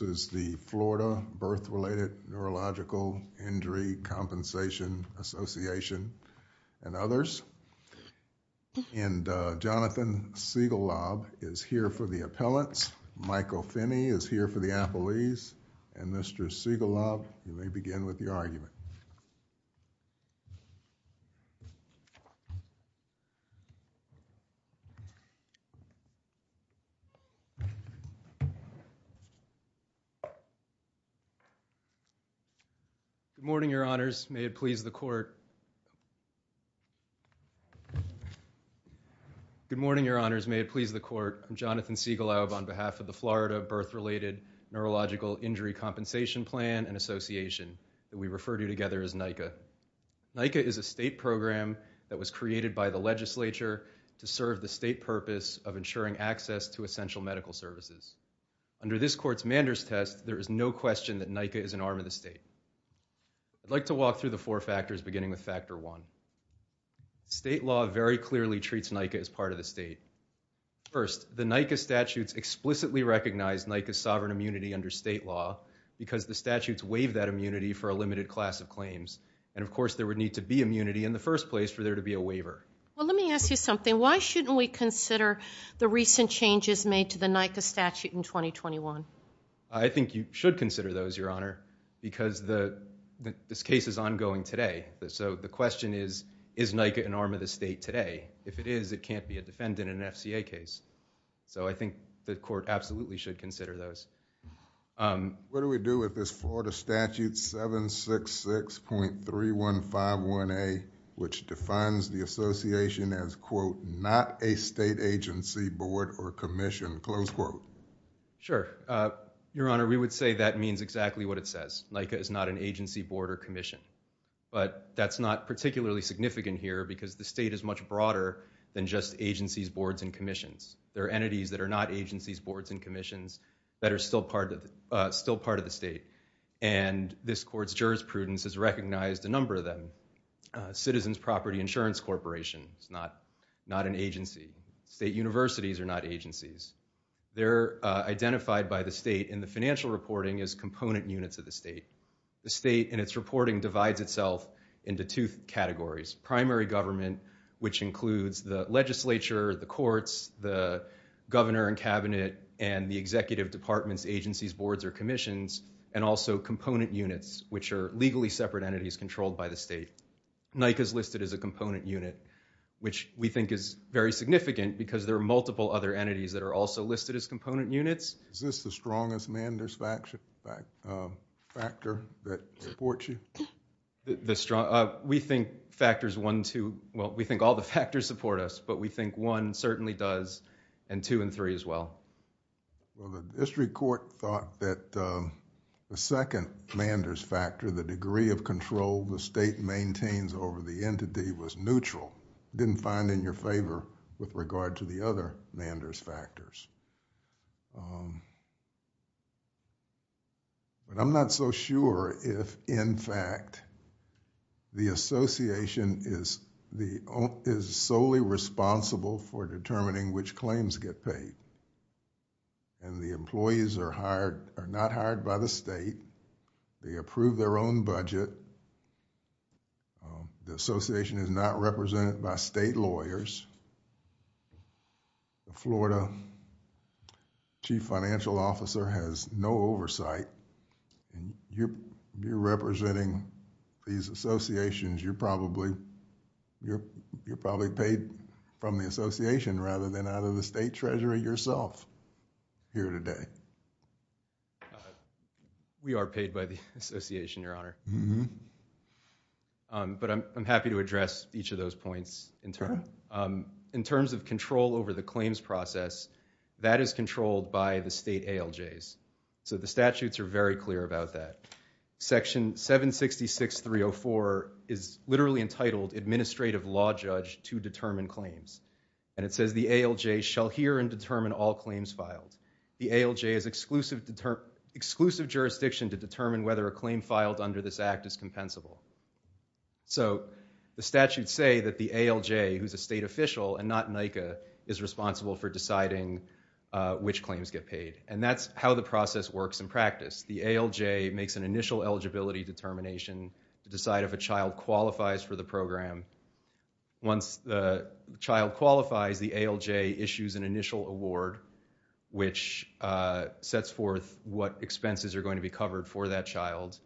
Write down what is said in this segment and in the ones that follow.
This is the Florida Birth-Related Neurological Injury Compensation Association and others. And Jonathan Siegelab is here for the appellants, Michael Finney is here for the appellees, and Mr. Siegelab, you may begin with your argument. Good morning, your honors. May it please the court. Good morning, your honors. May it please the court. I'm Jonathan Siegelab on behalf of the Florida Birth-Related Neurological Injury Compensation Plan and Association that we refer to together as NICA. NICA is a state program that was created by the legislature to serve the state purpose of ensuring access to essential medical services. Under this court's Manders test, there is no question that NICA is an arm of the state. I'd like to walk through the four factors beginning with factor one. State law very clearly treats NICA as part of the state. First, the NICA statutes explicitly recognize NICA's sovereign immunity under state law because the statutes waive that immunity for a limited class of claims. And of course, there would need to be immunity in the first place for there to be a waiver. Well, let me ask you something. Why shouldn't we consider the recent changes made to the NICA statute in 2021? I think you should consider those, your honor, because this case is ongoing today. So, the question is, is NICA an arm of the state today? If it is, it can't be a defendant in an FCA case. So, I think the court absolutely should consider those. What do we do with this Florida Statute 766.3151A, which defines the association as, quote, not a state agency, board, or commission, close quote? Sure. Your honor, we would say that means exactly what it says. NICA is not an agency, board, or commission. But that's not particularly significant here because the state is much broader than just agencies, boards, and commissions. There are entities that are not agencies, boards, and commissions that are still part of the state. And this court's jurisprudence has recognized a number of them. Citizens' Property Insurance Corporation is not an agency. State universities are not agencies. They're identified by the state in the financial reporting as component units of the state. The state, in its reporting, divides itself into two categories. Primary government, which includes the legislature, the courts, the governor and cabinet, and the executive departments, agencies, boards, or commissions, and also component units, which are legally separate entities controlled by the state. NICA is listed as a component unit, which we think is very significant because there are multiple other entities that are also listed as component units. Is this the strongest manders factor that supports you? We think factors 1 and 2, well, we think all the factors support us. But we think 1 certainly does, and 2 and 3 as well. Well, the district court thought that the second manders factor, the degree of control the state maintains over the entity, was neutral. It didn't find in your favor with regard to the other manders factors. But I'm not so sure if, in fact, the association is solely responsible for determining which claims get paid. The employees are not hired by the state. They approve their own budget. The association is not represented by state lawyers. The Florida chief financial officer has no oversight. You're representing these associations. You're probably paid from the association rather than out of the state treasury yourself here today. We are paid by the association, Your Honor. But I'm happy to address each of those points in turn. In terms of control over the claims process, that is controlled by the state ALJs. The statutes are very clear about that. Section 766.304 is literally entitled, Administrative Law Judge to Determine Claims. And it says, the ALJ shall hear and determine all claims filed. The ALJ is exclusive jurisdiction to determine whether a claim filed under this act is compensable. So the statutes say that the ALJ, who's a state official and not NICA, is responsible for deciding which claims get paid. And that's how the process works in practice. The ALJ makes an initial eligibility determination to decide if a child qualifies for the program. Once the child qualifies, the ALJ issues an initial award, which sets forth what expenses are going to be covered for that child.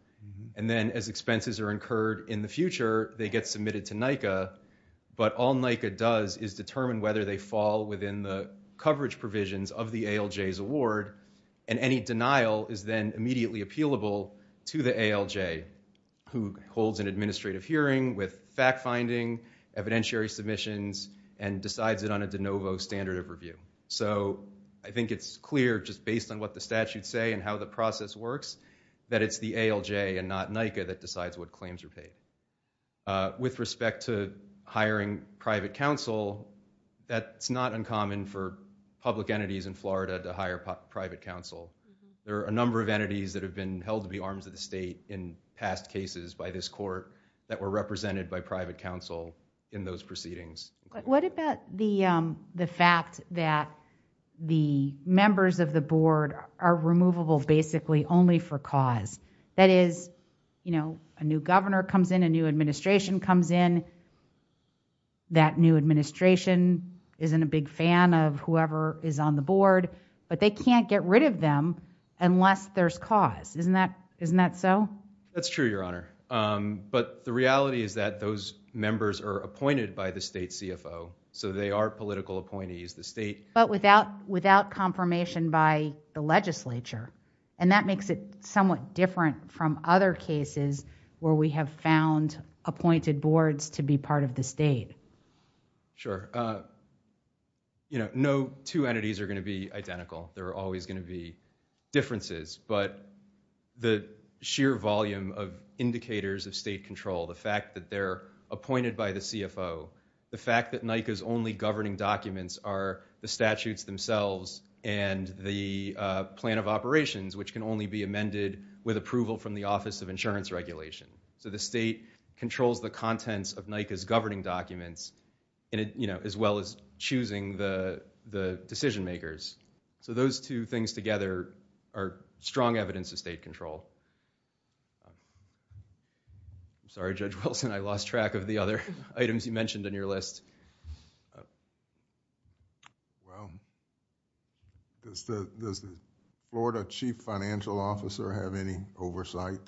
And then as expenses are incurred in the future, they get submitted to NICA. But all NICA does is determine whether they fall within the coverage provisions of the ALJ's award. And any denial is then immediately appealable to the ALJ, who holds an administrative hearing with fact-finding, evidentiary submissions, and decides it on a de novo standard of review. So I think it's clear just based on what the statutes say and how the process works that it's the ALJ and not NICA that decides what claims are paid. With respect to hiring private counsel, that's not uncommon for public entities in Florida to hire private counsel. There are a number of entities that have been held to be arms of the state in past cases by this court that were represented by private counsel in those proceedings. What about the fact that the members of the board are removable basically only for cause? That is, you know, a new governor comes in, a new administration comes in, that new administration isn't a big fan of whoever is on the board, but they can't get rid of them unless there's cause. Isn't that so? That's true, Your Honor. But the reality is that those members are appointed by the state CFO, so they are political appointees. But without confirmation by the legislature. And that makes it somewhat different from other cases where we have found appointed boards to be part of the state. Sure. You know, no two entities are going to be identical. There are always going to be differences. But the sheer volume of indicators of state control, the fact that they're appointed by the CFO, the fact that NICA's only governing documents are the statutes themselves and the plan of operations, which can only be amended with approval from the Office of Insurance Regulation. So the state controls the contents of NICA's governing documents, you know, as well as choosing the decision makers. So those two things together are strong evidence of state control. I'm sorry, Judge Wilson. I lost track of the other items you mentioned on your list. Well, does the Florida Chief Financial Officer have any oversight?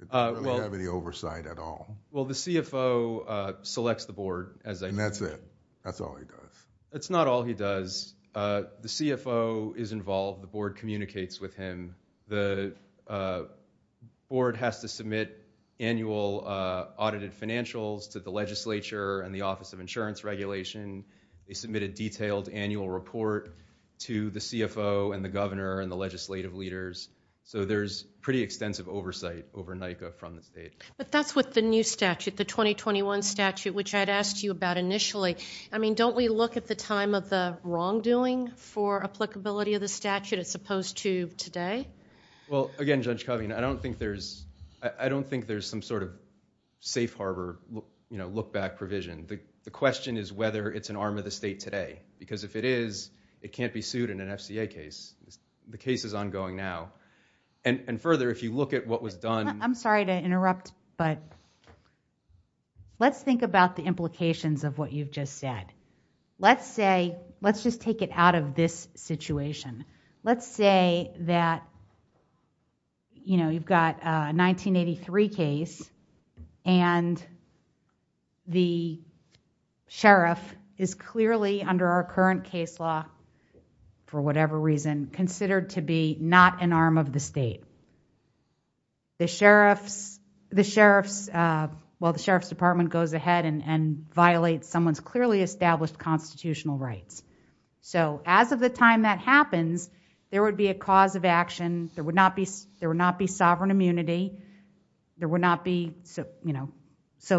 Does he really have any oversight at all? Well, the CFO selects the board. And that's it? That's all he does? That's not all he does. The CFO is involved. The board communicates with him. The board has to submit annual audited financials to the legislature and the Office of Insurance Regulation. They submit a detailed annual report to the CFO and the governor and the legislative leaders. So there's pretty extensive oversight over NICA from the state. But that's with the new statute, the 2021 statute, which I had asked you about initially. I mean, don't we look at the time of the wrongdoing for applicability of the statute as opposed to today? Well, again, Judge Covington, I don't think there's some sort of safe harbor, you know, look-back provision. The question is whether it's an arm of the state today. Because if it is, it can't be sued in an FCA case. The case is ongoing now. And further, if you look at what was done... I'm sorry to interrupt, but let's think about the implications of what you've just said. Let's say, let's just take it out of this situation. Let's say that, you know, you've got a 1983 case and the sheriff is clearly, under our current case law, for whatever reason, considered to be not an arm of the state. The sheriff's... Well, the sheriff's department goes ahead and violates someone's clearly established constitutional rights. So as of the time that happens, there would be a cause of action. There would not be sovereign immunity. There would not be... So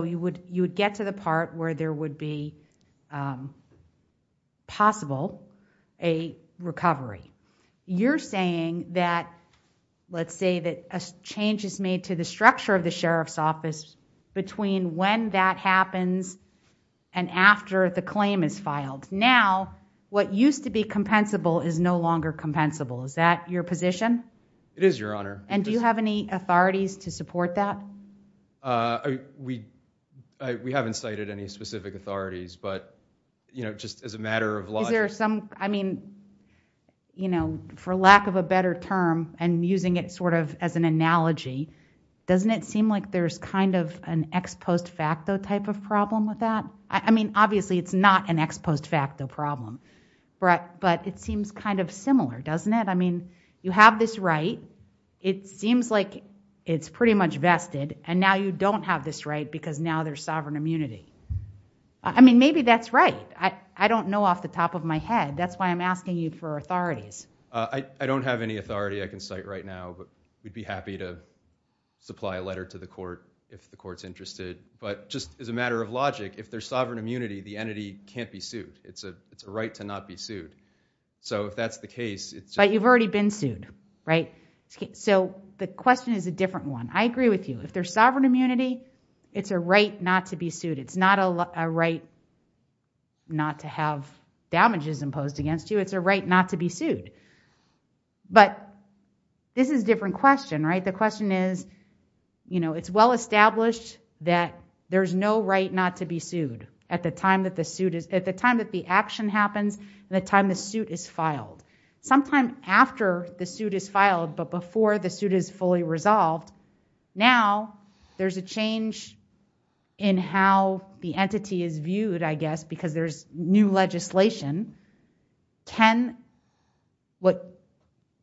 you would get to the part where there would be possible a recovery. You're saying that, let's say that a change is made to the structure of the sheriff's office between when that happens and after the claim is filed. Now, what used to be compensable is no longer compensable. Is that your position? It is, Your Honor. And do you have any authorities to support that? We haven't cited any specific authorities, but, you know, just as a matter of logic... Is there some... I mean, you know, for lack of a better term and using it sort of as an analogy, doesn't it seem like there's kind of an ex post facto type of problem with that? I mean, obviously, it's not an ex post facto problem, but it seems kind of similar, doesn't it? I mean, you have this right. It seems like it's pretty much vested, and now you don't have this right because now there's sovereign immunity. I mean, maybe that's right. I don't know off the top of my head. That's why I'm asking you for authorities. I don't have any authority I can cite right now, but we'd be happy to supply a letter to the court if the court's interested. But just as a matter of logic, if there's sovereign immunity, the entity can't be sued. It's a right to not be sued. So if that's the case... But you've already been sued, right? So the question is a different one. I agree with you. If there's sovereign immunity, it's a right not to be sued. It's not a right not to have damages imposed against you. It's a right not to be sued. But this is a different question, right? The question is, you know, it's well established that there's no right not to be sued at the time that the action happens and the time the suit is filed. Sometime after the suit is filed, but before the suit is fully resolved, now there's a change in how the entity is viewed, I guess, because there's new legislation. Can what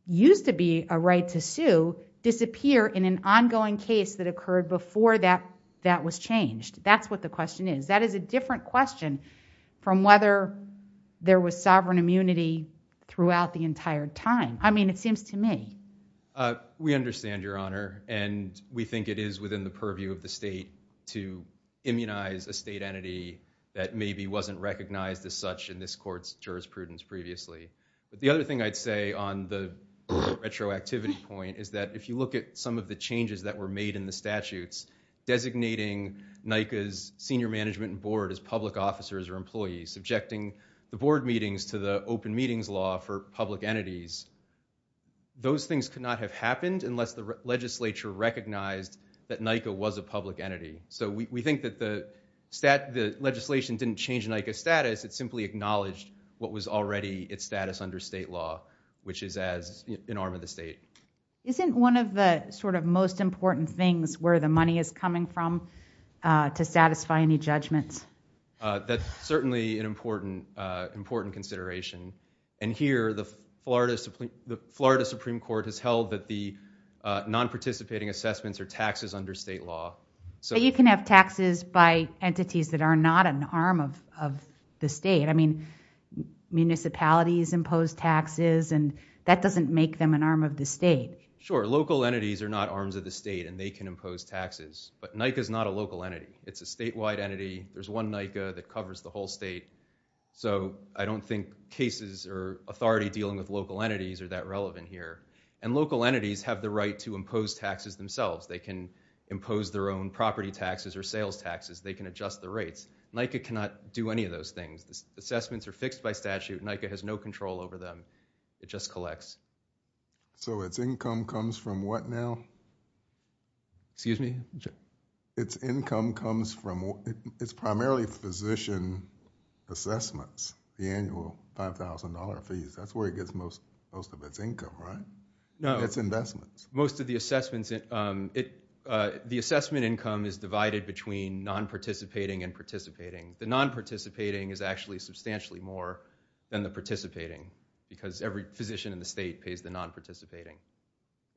used to be a right to sue disappear in an ongoing case that occurred before that was changed? That's what the question is. That is a different question from whether there was sovereign immunity throughout the entire time. I mean, it seems to me. We understand, Your Honor, and we think it is within the purview of the state to immunize a state entity that maybe wasn't recognized as such in this Court's jurisprudence previously. But the other thing I'd say on the retroactivity point is that if you look at some of the changes that were made in the statutes designating NICA's senior management and board as public officers or employees, subjecting the board meetings to the open meetings law for public entities, those things could not have happened unless the legislature recognized that NICA was a public entity. So we think that the legislation didn't change NICA's status. It simply acknowledged what was already its status under state law, which is as an arm of the state. Isn't one of the sort of most important things where the money is coming from to satisfy any judgments? That's certainly an important consideration. And here, the Florida Supreme Court has held that the non-participating assessments are taxes under state law. But you can have taxes by entities that are not an arm of the state. I mean, municipalities impose taxes, and that doesn't make them an arm of the state. Sure, local entities are not arms of the state, and they can impose taxes. But NICA's not a local entity. It's a statewide entity. There's one NICA that covers the whole state. So I don't think cases or authority dealing with local entities are that relevant here. And local entities have the right to impose taxes themselves. They can impose their own property taxes or sales taxes. They can adjust the rates. NICA cannot do any of those things. Assessments are fixed by statute. NICA has no control over them. It just collects. So its income comes from what now? Excuse me? Its income comes from – it's primarily physician assessments, the annual $5,000 fees. That's where it gets most of its income, right? No. Its investments. Most of the assessments – the assessment income is divided between non-participating and participating. The non-participating is actually substantially more than the participating because every physician in the state pays the non-participating,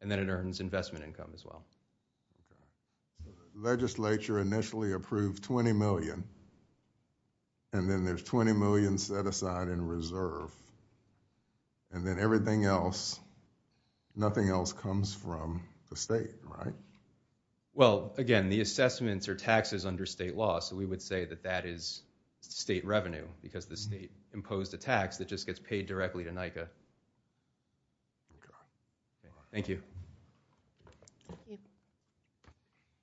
and then it earns investment income as well. So the legislature initially approved $20 million, and then there's $20 million set aside in reserve, and then everything else – nothing else comes from the state, right? Well, again, the assessments are taxes under state law, so we would say that that is state revenue because the state imposed a tax that just gets paid directly to NICA. Thank you.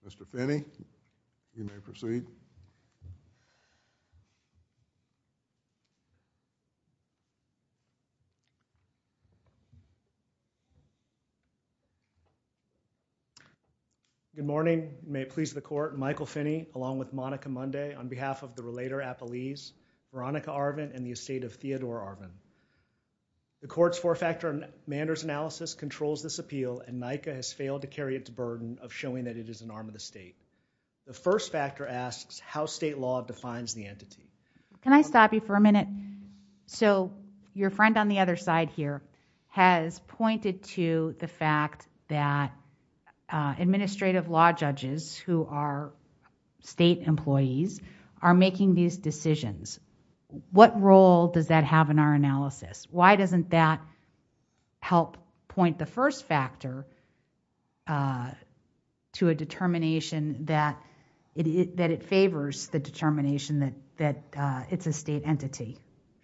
Mr. Finney, you may proceed. Good morning. May it please the court, Michael Finney, along with Monica Munday, on behalf of the Relator Appellees, Veronica Arvin, and the estate of Theodore Arvin. The court's four-factor Manders analysis controls this appeal, and NICA has failed to carry its burden of showing that it is an arm of the state. The first factor asks how state law defines the entity. Can I stop you for a minute? So your friend on the other side here has pointed to the fact that administrative law judges who are state employees are making these decisions. What role does that have in our analysis? Why doesn't that help point the first factor to a determination that it favors the determination that it's a state entity?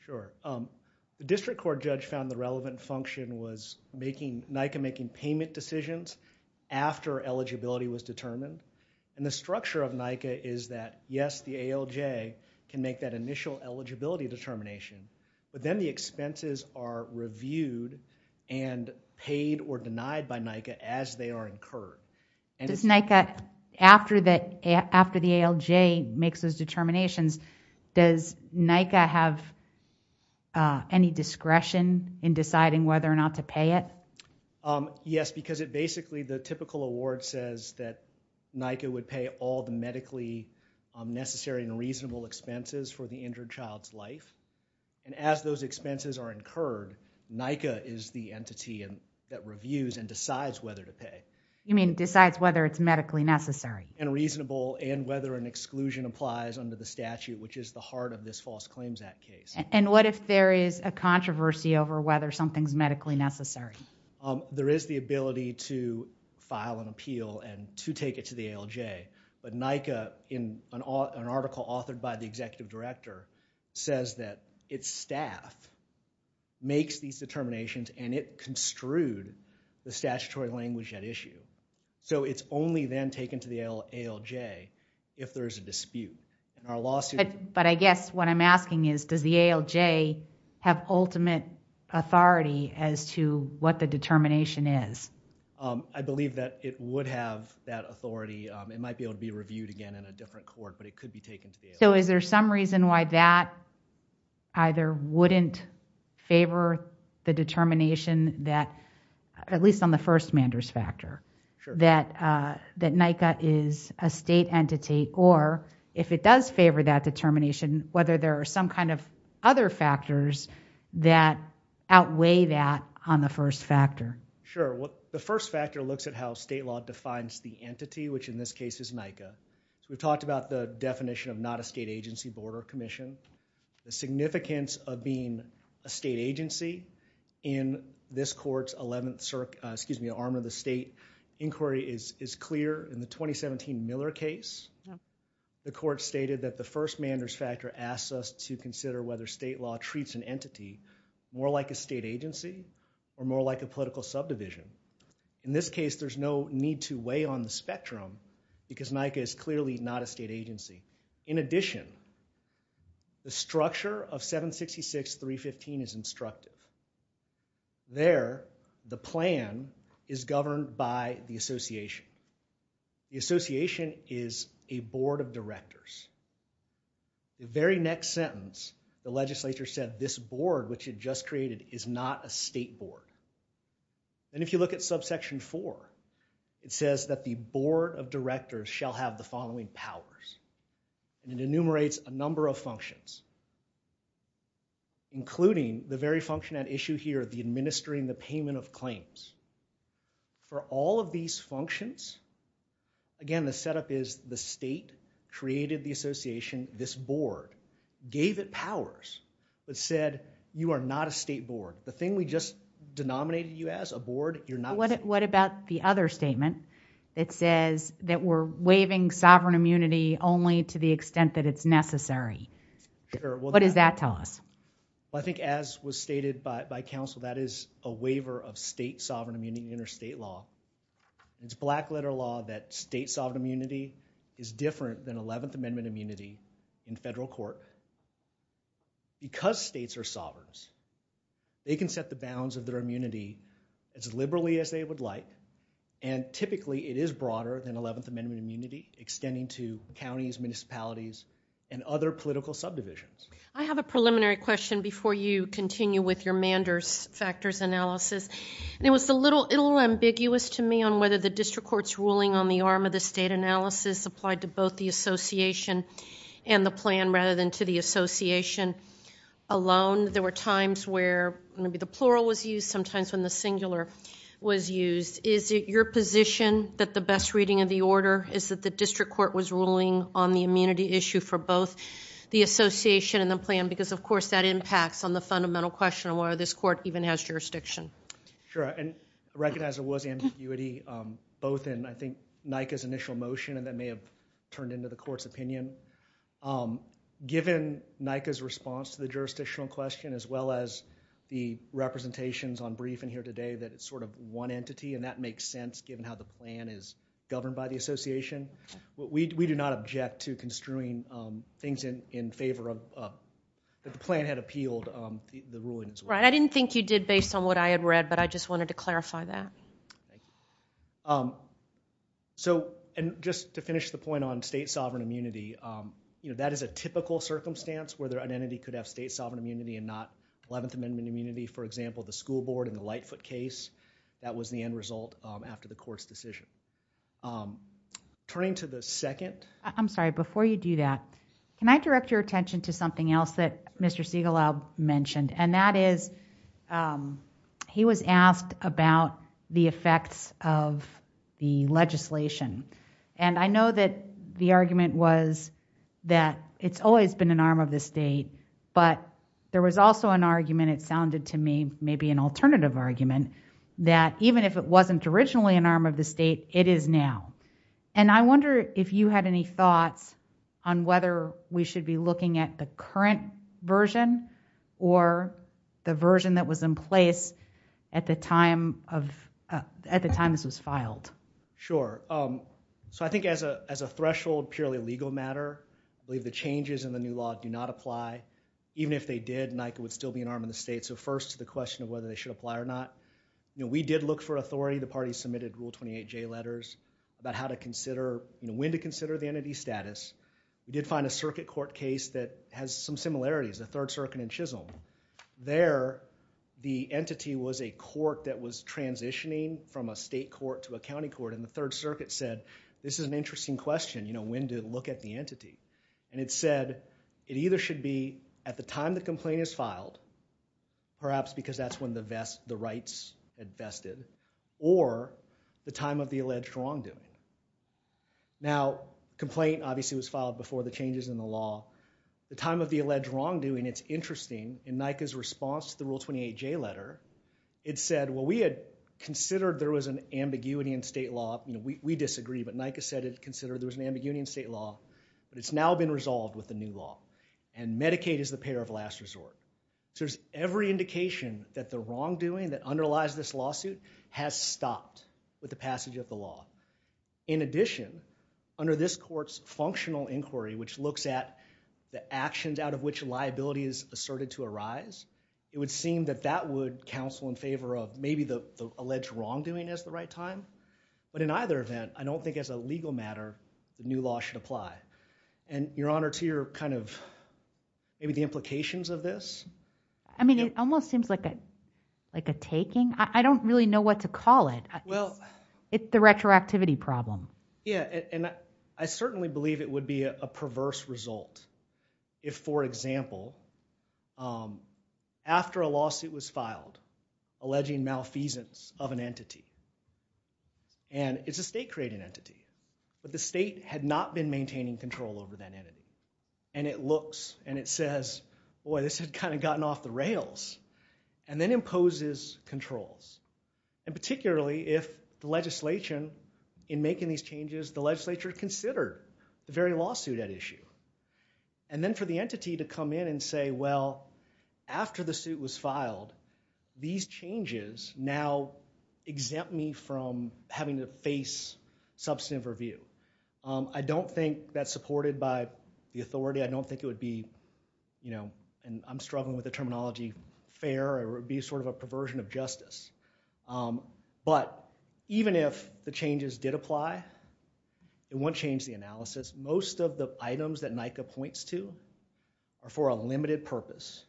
Sure. The district court judge found the relevant function was NICA making payment decisions after eligibility was determined, and the structure of NICA is that, yes, the ALJ can make that initial eligibility determination, but then the expenses are reviewed and paid or denied by NICA as they are incurred. Does NICA, after the ALJ makes those determinations, does NICA have any discretion in deciding whether or not to pay it? Yes, because it basically, the typical award says that NICA would pay all the medically necessary and reasonable expenses for the injured child's life, and as those expenses are incurred, NICA is the entity that reviews and decides whether to pay. You mean decides whether it's medically necessary? And reasonable and whether an exclusion applies under the statute, which is the heart of this False Claims Act case. And what if there is a controversy over whether something's medically necessary? There is the ability to file an appeal and to take it to the ALJ, but NICA, in an article authored by the executive director, says that its staff makes these determinations, and it construed the statutory language at issue. So it's only then taken to the ALJ if there's a dispute. But I guess what I'm asking is, does the ALJ have ultimate authority as to what the determination is? I believe that it would have that authority. It might be able to be reviewed again in a different court, but it could be taken to the ALJ. So is there some reason why that either wouldn't favor the determination that, at least on the first-demanders factor, that NICA is a state entity? Or if it does favor that determination, whether there are some kind of other factors that outweigh that on the first factor? Sure. The first factor looks at how state law defines the entity, which in this case is NICA. So we've talked about the definition of not a state agency, border commission. The significance of being a state agency in this court's 11th circuit, excuse me, to armor the state inquiry is clear. In the 2017 Miller case, the court stated that the first-manders factor asks us to consider whether state law treats an entity more like a state agency or more like a political subdivision. In this case, there's no need to weigh on the spectrum because NICA is clearly not a state agency. In addition, the structure of 766.315 is instructive. There, the plan is governed by the association. The association is a board of directors. The very next sentence, the legislature said, this board, which it just created, is not a state board. And if you look at subsection 4, it says that the board of directors shall have the following powers. And it enumerates a number of functions, including the very function at issue here, the administering the payment of claims. For all of these functions, again, the setup is the state created the association, this board gave it powers, but said, you are not a state board. The thing we just denominated you as, a board, you're not. What about the other statement that says that we're waiving sovereign immunity only to the extent that it's necessary? What does that tell us? I think as was stated by counsel, that is a waiver of state sovereign immunity in interstate law. It's black letter law that state sovereign immunity is different than 11th Amendment immunity in federal court. Because states are sovereigns, they can set the bounds of their immunity as liberally as they would like. extending to counties, municipalities, and other political subdivisions. I have a preliminary question before you continue with your Manders factors analysis. It was a little ambiguous to me on whether the district court's ruling on the arm of the state analysis applied to both the association and the plan rather than to the association alone. There were times where maybe the plural was used, sometimes when the singular was used. Is it your position that the best reading of the order is that the district court was ruling on the immunity issue for both the association and the plan? Because, of course, that impacts on the fundamental question of whether this court even has jurisdiction. Sure. And I recognize there was ambiguity both in, I think, NICA's initial motion, and that may have turned into the court's opinion. Given NICA's response to the jurisdictional question as well as the representations on briefing here today that it's sort of one entity, and that makes sense given how the plan is governed by the association. We do not object to construing things in favor of... that the plan had appealed the ruling as well. Right. I didn't think you did based on what I had read, but I just wanted to clarify that. Thank you. So, and just to finish the point on state sovereign immunity, you know, that is a typical circumstance where an entity could have state sovereign immunity and not 11th Amendment immunity. For example, the school board in the Lightfoot case, that was the end result after the court's decision. Turning to the second... I'm sorry, before you do that, can I direct your attention to something else that Mr. Segal mentioned, and that is he was asked about the effects of the legislation. And I know that the argument was that it's always been an arm of the state, but there was also an argument, it sounded to me, maybe an alternative argument, that even if it wasn't originally an arm of the state, it is now. And I wonder if you had any thoughts on whether we should be looking at the current version or the version that was in place at the time of... at the time this was filed. Sure. So I think as a threshold purely legal matter, I believe the changes in the new law do not apply. Even if they did, NICA would still be an arm of the state. So first, the question of whether they should apply or not. You know, we did look for authority. The party submitted Rule 28J letters about how to consider... you know, when to consider the entity's status. We did find a circuit court case that has some similarities, the Third Circuit in Chisholm. There, the entity was a court that was transitioning from a state court to a county court, and the Third Circuit said, this is an interesting question, you know, when to look at the entity. And it said it either should be at the time the complaint is filed, perhaps because that's when the rights had vested, or the time of the alleged wrongdoing. Now, complaint obviously was filed before the changes in the law. The time of the alleged wrongdoing, it's interesting. In NICA's response to the Rule 28J letter, it said, well, we had considered there was an ambiguity in state law. You know, we disagree, but NICA said it considered there was an ambiguity in state law. But it's now been resolved with the new law. And Medicaid is the payer of last resort. So there's every indication that the wrongdoing that underlies this lawsuit has stopped with the passage of the law. In addition, under this court's functional inquiry, which looks at the actions out of which liability is asserted to arise, it would seem that that would counsel in favor of maybe the alleged wrongdoing as the right time. But in either event, I don't think as a legal matter the new law should apply. And Your Honor, to your kind of, maybe the implications of this. I mean, it almost seems like a taking. I don't really know what to call it. It's the retroactivity problem. Yeah, and I certainly believe it would be a perverse result if, for example, after a lawsuit was filed alleging malfeasance of an entity, and it's a state-created entity, but the state had not been maintaining control over that entity, and it looks and it says, boy, this has kind of gotten off the rails, and then imposes controls. And particularly if the legislation, in making these changes, the legislature considered the very lawsuit at issue. And then for the entity to come in and say, well, after the suit was filed, these changes now exempt me from having to face substantive review. I don't think that's supported by the authority. I don't think it would be, and I'm struggling with the terminology, fair or it would be sort of a perversion of justice. But even if the changes did apply, it wouldn't change the analysis. Most of the items that NICA points to are for a limited purpose.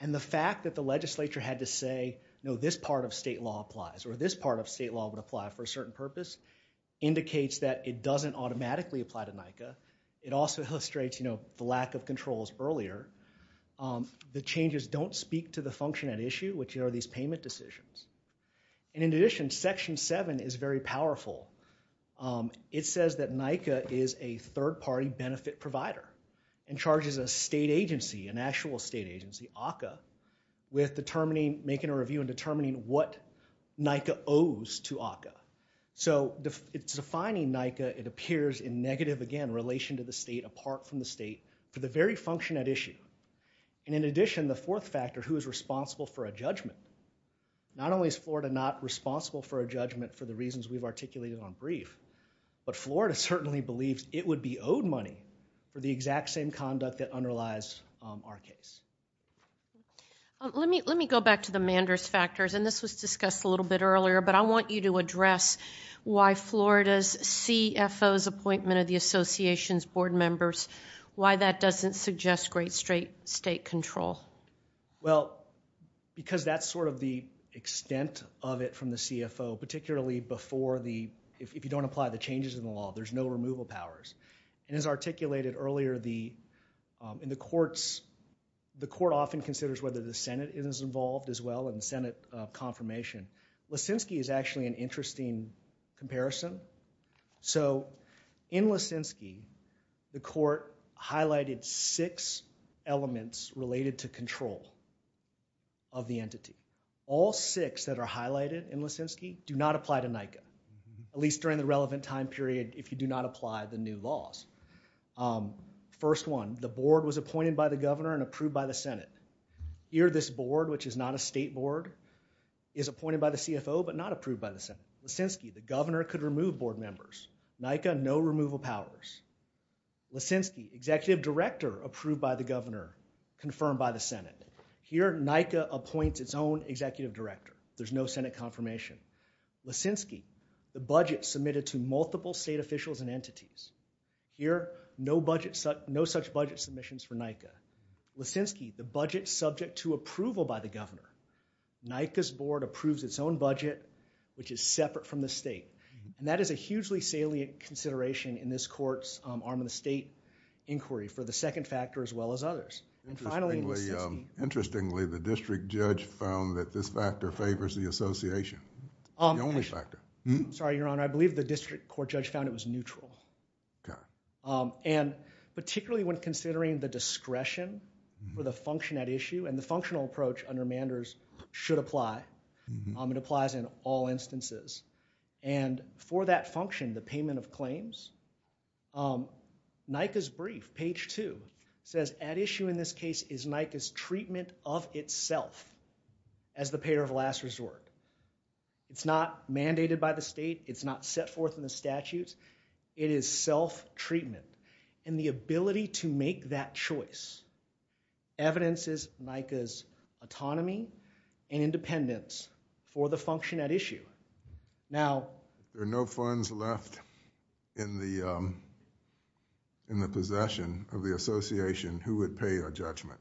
And the fact that the legislature had to say, no, this part of state law applies, or this part of state law would apply for a certain purpose, indicates that it doesn't automatically apply to NICA. It also illustrates the lack of controls earlier. The changes don't speak to the function at issue, which are these payment decisions. And in addition, Section 7 is very powerful. It says that NICA is a third-party benefit provider and charges a state agency, an actual state agency, ACCA, with determining, making a review and determining what NICA owes to ACCA. So it's defining NICA, it appears, in negative, again, relation to the state, apart from the state, for the very function at issue. And in addition, the fourth factor, who is responsible for a judgment? Not only is Florida not responsible for a judgment for the reasons we've articulated on brief, but Florida certainly believes it would be owed money for the exact same conduct that underlies our case. Let me go back to the Manders factors, and this was discussed a little bit earlier, but I want you to address why Florida's CFO's appointment of the association's board members, why that doesn't suggest great state control. Well, because that's sort of the extent of it from the CFO, particularly before the... If you don't apply the changes in the law, there's no removal powers. And as articulated earlier, in the courts, the court often considers whether the Senate is involved as well in Senate confirmation. Lissinsky is actually an interesting comparison. So in Lissinsky, the court highlighted six elements related to control of the entity. All six that are highlighted in Lissinsky do not apply to NICA, at least during the relevant time period, if you do not apply the new laws. First one, the board was appointed by the governor and approved by the Senate. Here, this board, which is not a state board, is appointed by the CFO but not approved by the Senate. Lissinsky, the governor could remove board members. NICA, no removal powers. Lissinsky, executive director approved by the governor, confirmed by the Senate. Here, NICA appoints its own executive director. There's no Senate confirmation. Lissinsky, the budget submitted to multiple state officials and entities. Here, no such budget submissions for NICA. Lissinsky, the budget subject to approval by the governor. NICA's board approves its own budget, which is separate from the state. And that is a hugely salient consideration in this court's arm of the state inquiry And finally, Lissinsky... The only factor. I'm sorry, Your Honor. I believe the district court judge found it was neutral. And particularly when considering the discretion for the function at issue, and the functional approach under Manders should apply. It applies in all instances. And for that function, the payment of claims, NICA's brief, page two, says, at issue in this case is NICA's treatment of itself as the payer of last resort. It's not mandated by the state. It's not set forth in the statutes. It is self-treatment. And the ability to make that choice evidences NICA's autonomy and independence for the function at issue. Now... If there are no funds left in the possession of the association, who would pay a judgment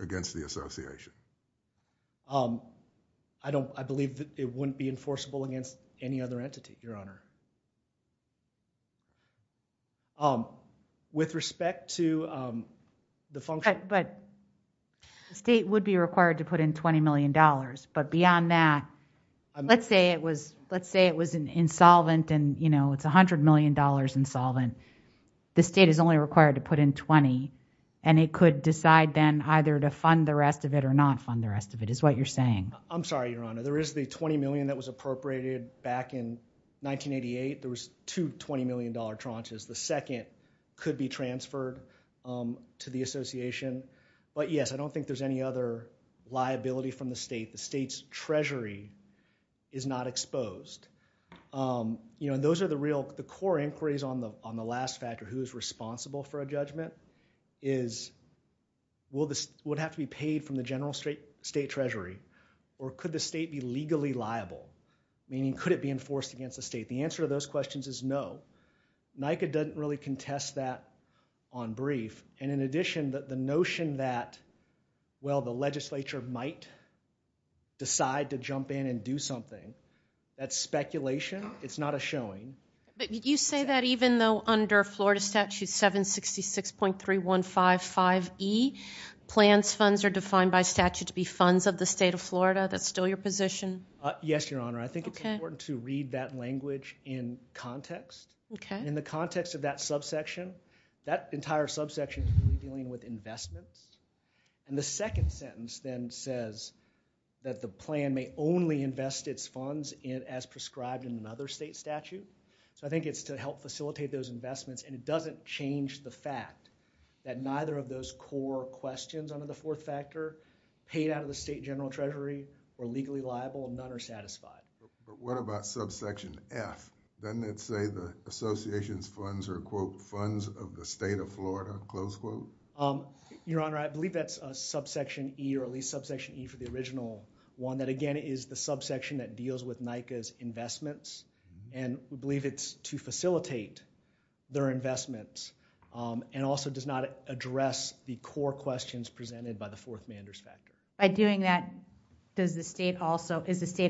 against the association? I don't... I believe that it wouldn't be enforceable against any other entity, Your Honor. With respect to the function... But... The state would be required to put in $20 million. But beyond that... Let's say it was... Let's say it was insolvent and, you know, it's $100 million insolvent. The state is only required to put in $20. And it could decide then either to fund the rest of it or not fund the rest of it, is what you're saying. I'm sorry, Your Honor. There is the $20 million that was appropriated back in 1988. There was two $20 million tranches. The second could be transferred to the association. But, yes, I don't think there's any other liability from the state. The state's treasury is not exposed. You know, those are the real... The core inquiries on the last factor, who's responsible for a judgment, is would it have to be paid from the general state treasury or could the state be legally liable? Meaning, could it be enforced against the state? The answer to those questions is no. NICA doesn't really contest that on brief. And in addition, the notion that, well, the legislature might decide to jump in and do something, that's speculation. It's not a showing. But you say that even though under Florida Statute 766.2, .3155E, plans funds are defined by statute to be funds of the state of Florida. That's still your position? Yes, Your Honor. I think it's important to read that language in context. In the context of that subsection, that entire subsection is really dealing with investments. And the second sentence then says that the plan may only invest its funds as prescribed in another state statute. So I think it's to help facilitate those investments. And it doesn't change the fact that neither of those core questions under the fourth factor paid out of the state general treasury are legally liable and none are satisfied. But what about subsection F? Doesn't it say the association's funds are, quote, funds of the state of Florida, close quote? Your Honor, I believe that's a subsection E or at least subsection E for the original one that, again, is the subsection that deals with NICA's investments. And we believe it's to facilitate their investments and also does not address the core questions presented by the fourth manders factor. By doing that, is the state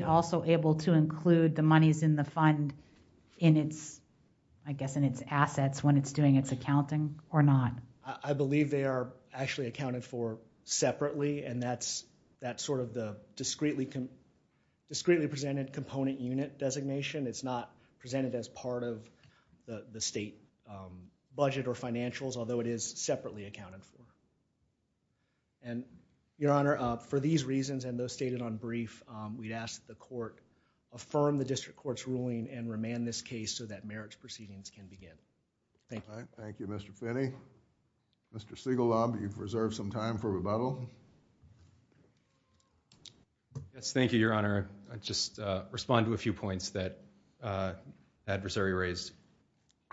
also able to include the monies in the fund in its assets when it's doing its accounting or not? I believe they are actually accounted for separately. And that's sort of the discreetly presented component unit designation. It's not presented as part of the state budget or financials, although it is separately accounted for. And, Your Honor, for these reasons and those stated on brief, we'd ask that the court affirm the district court's ruling and remand this case so that merits proceedings can begin. Thank you. Thank you, Mr. Finney. Mr. Siegellaub, you've reserved some time for rebuttal. Yes, thank you, Your Honor. I'll just respond to a few points that the adversary raised.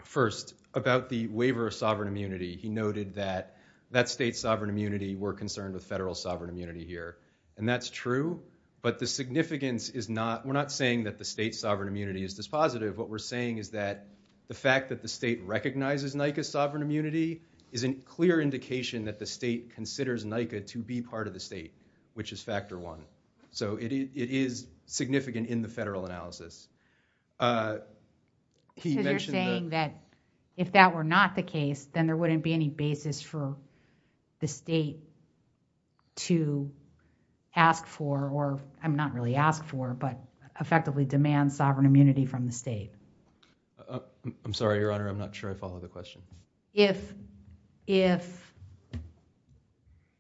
First, about the waiver of sovereign immunity, he noted that that state's sovereign immunity, we're concerned with federal sovereign immunity here. And that's true. But the significance is not, we're not saying that the state's sovereign immunity is dispositive. What we're saying is that the fact that the state recognizes NICA's sovereign immunity is a clear indication that the state considers NICA to be part of the state, which is factor one. So it is significant in the federal analysis. Because you're saying that if that were not the case, then there wouldn't be any basis for the state to ask for, or not really ask for, but effectively demand sovereign immunity from the state. I'm sorry, Your Honor. I'm not sure I follow the question. If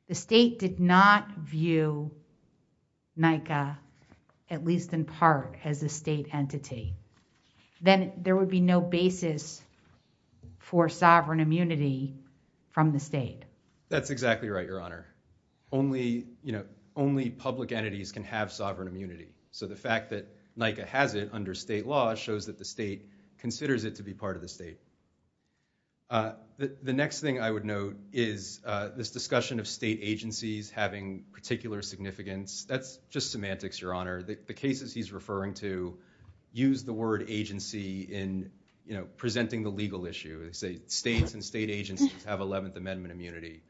the state did not view NICA, at least in part, as a state entity, then there would be no basis for sovereign immunity from the state. That's exactly right, Your Honor. Only public entities can have sovereign immunity. So the fact that NICA has it under state law shows that the state considers it to be part of the state. The next thing I would note is this discussion of state agencies having particular significance. That's just semantics, Your Honor. The cases he's referring to use the word agency in presenting the legal issue. They say states and state agencies have 11th Amendment immunity.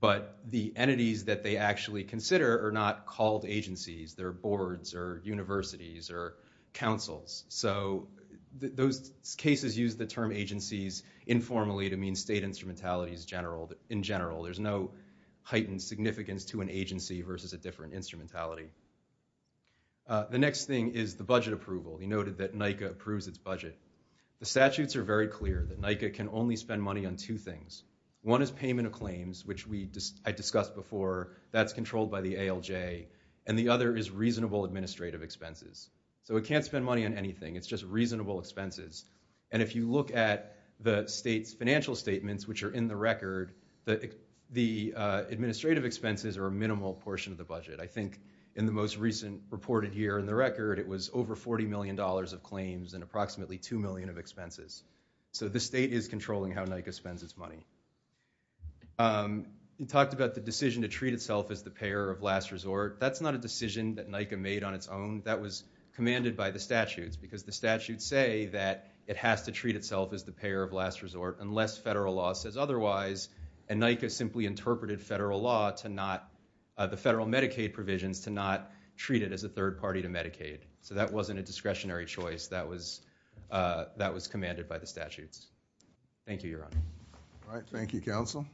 But the entities that they actually consider are not called agencies. They're boards, or universities, or councils. So those cases use the term agencies informally to mean state instrumentalities in general. There's no heightened significance to an agency versus a different instrumentality. The next thing is the budget approval. He noted that NICA approves its budget. The statutes are very clear that NICA can only spend money on two things. One is payment of claims, which I discussed before. That's controlled by the ALJ. And the other is reasonable administrative expenses. So it can't spend money on anything. It's just reasonable expenses. And if you look at the state's financial statements, which are in the record, the administrative expenses are a minimal portion of the budget. I think in the most recent reported here in the record, it was over $40 million of claims and approximately $2 million of expenses. So the state is controlling how NICA spends its money. He talked about the decision to treat itself as the payer of last resort. That's not a decision that NICA made on its own. That was commanded by the statutes because the statutes say that it has to treat itself as the payer of last resort unless federal law says otherwise. And NICA simply interpreted the federal Medicaid provisions to not treat it as a third party to Medicaid. So that wasn't a discretionary choice. That was commanded by the statutes. Thank you, Your Honor. All right, thank you, counsel.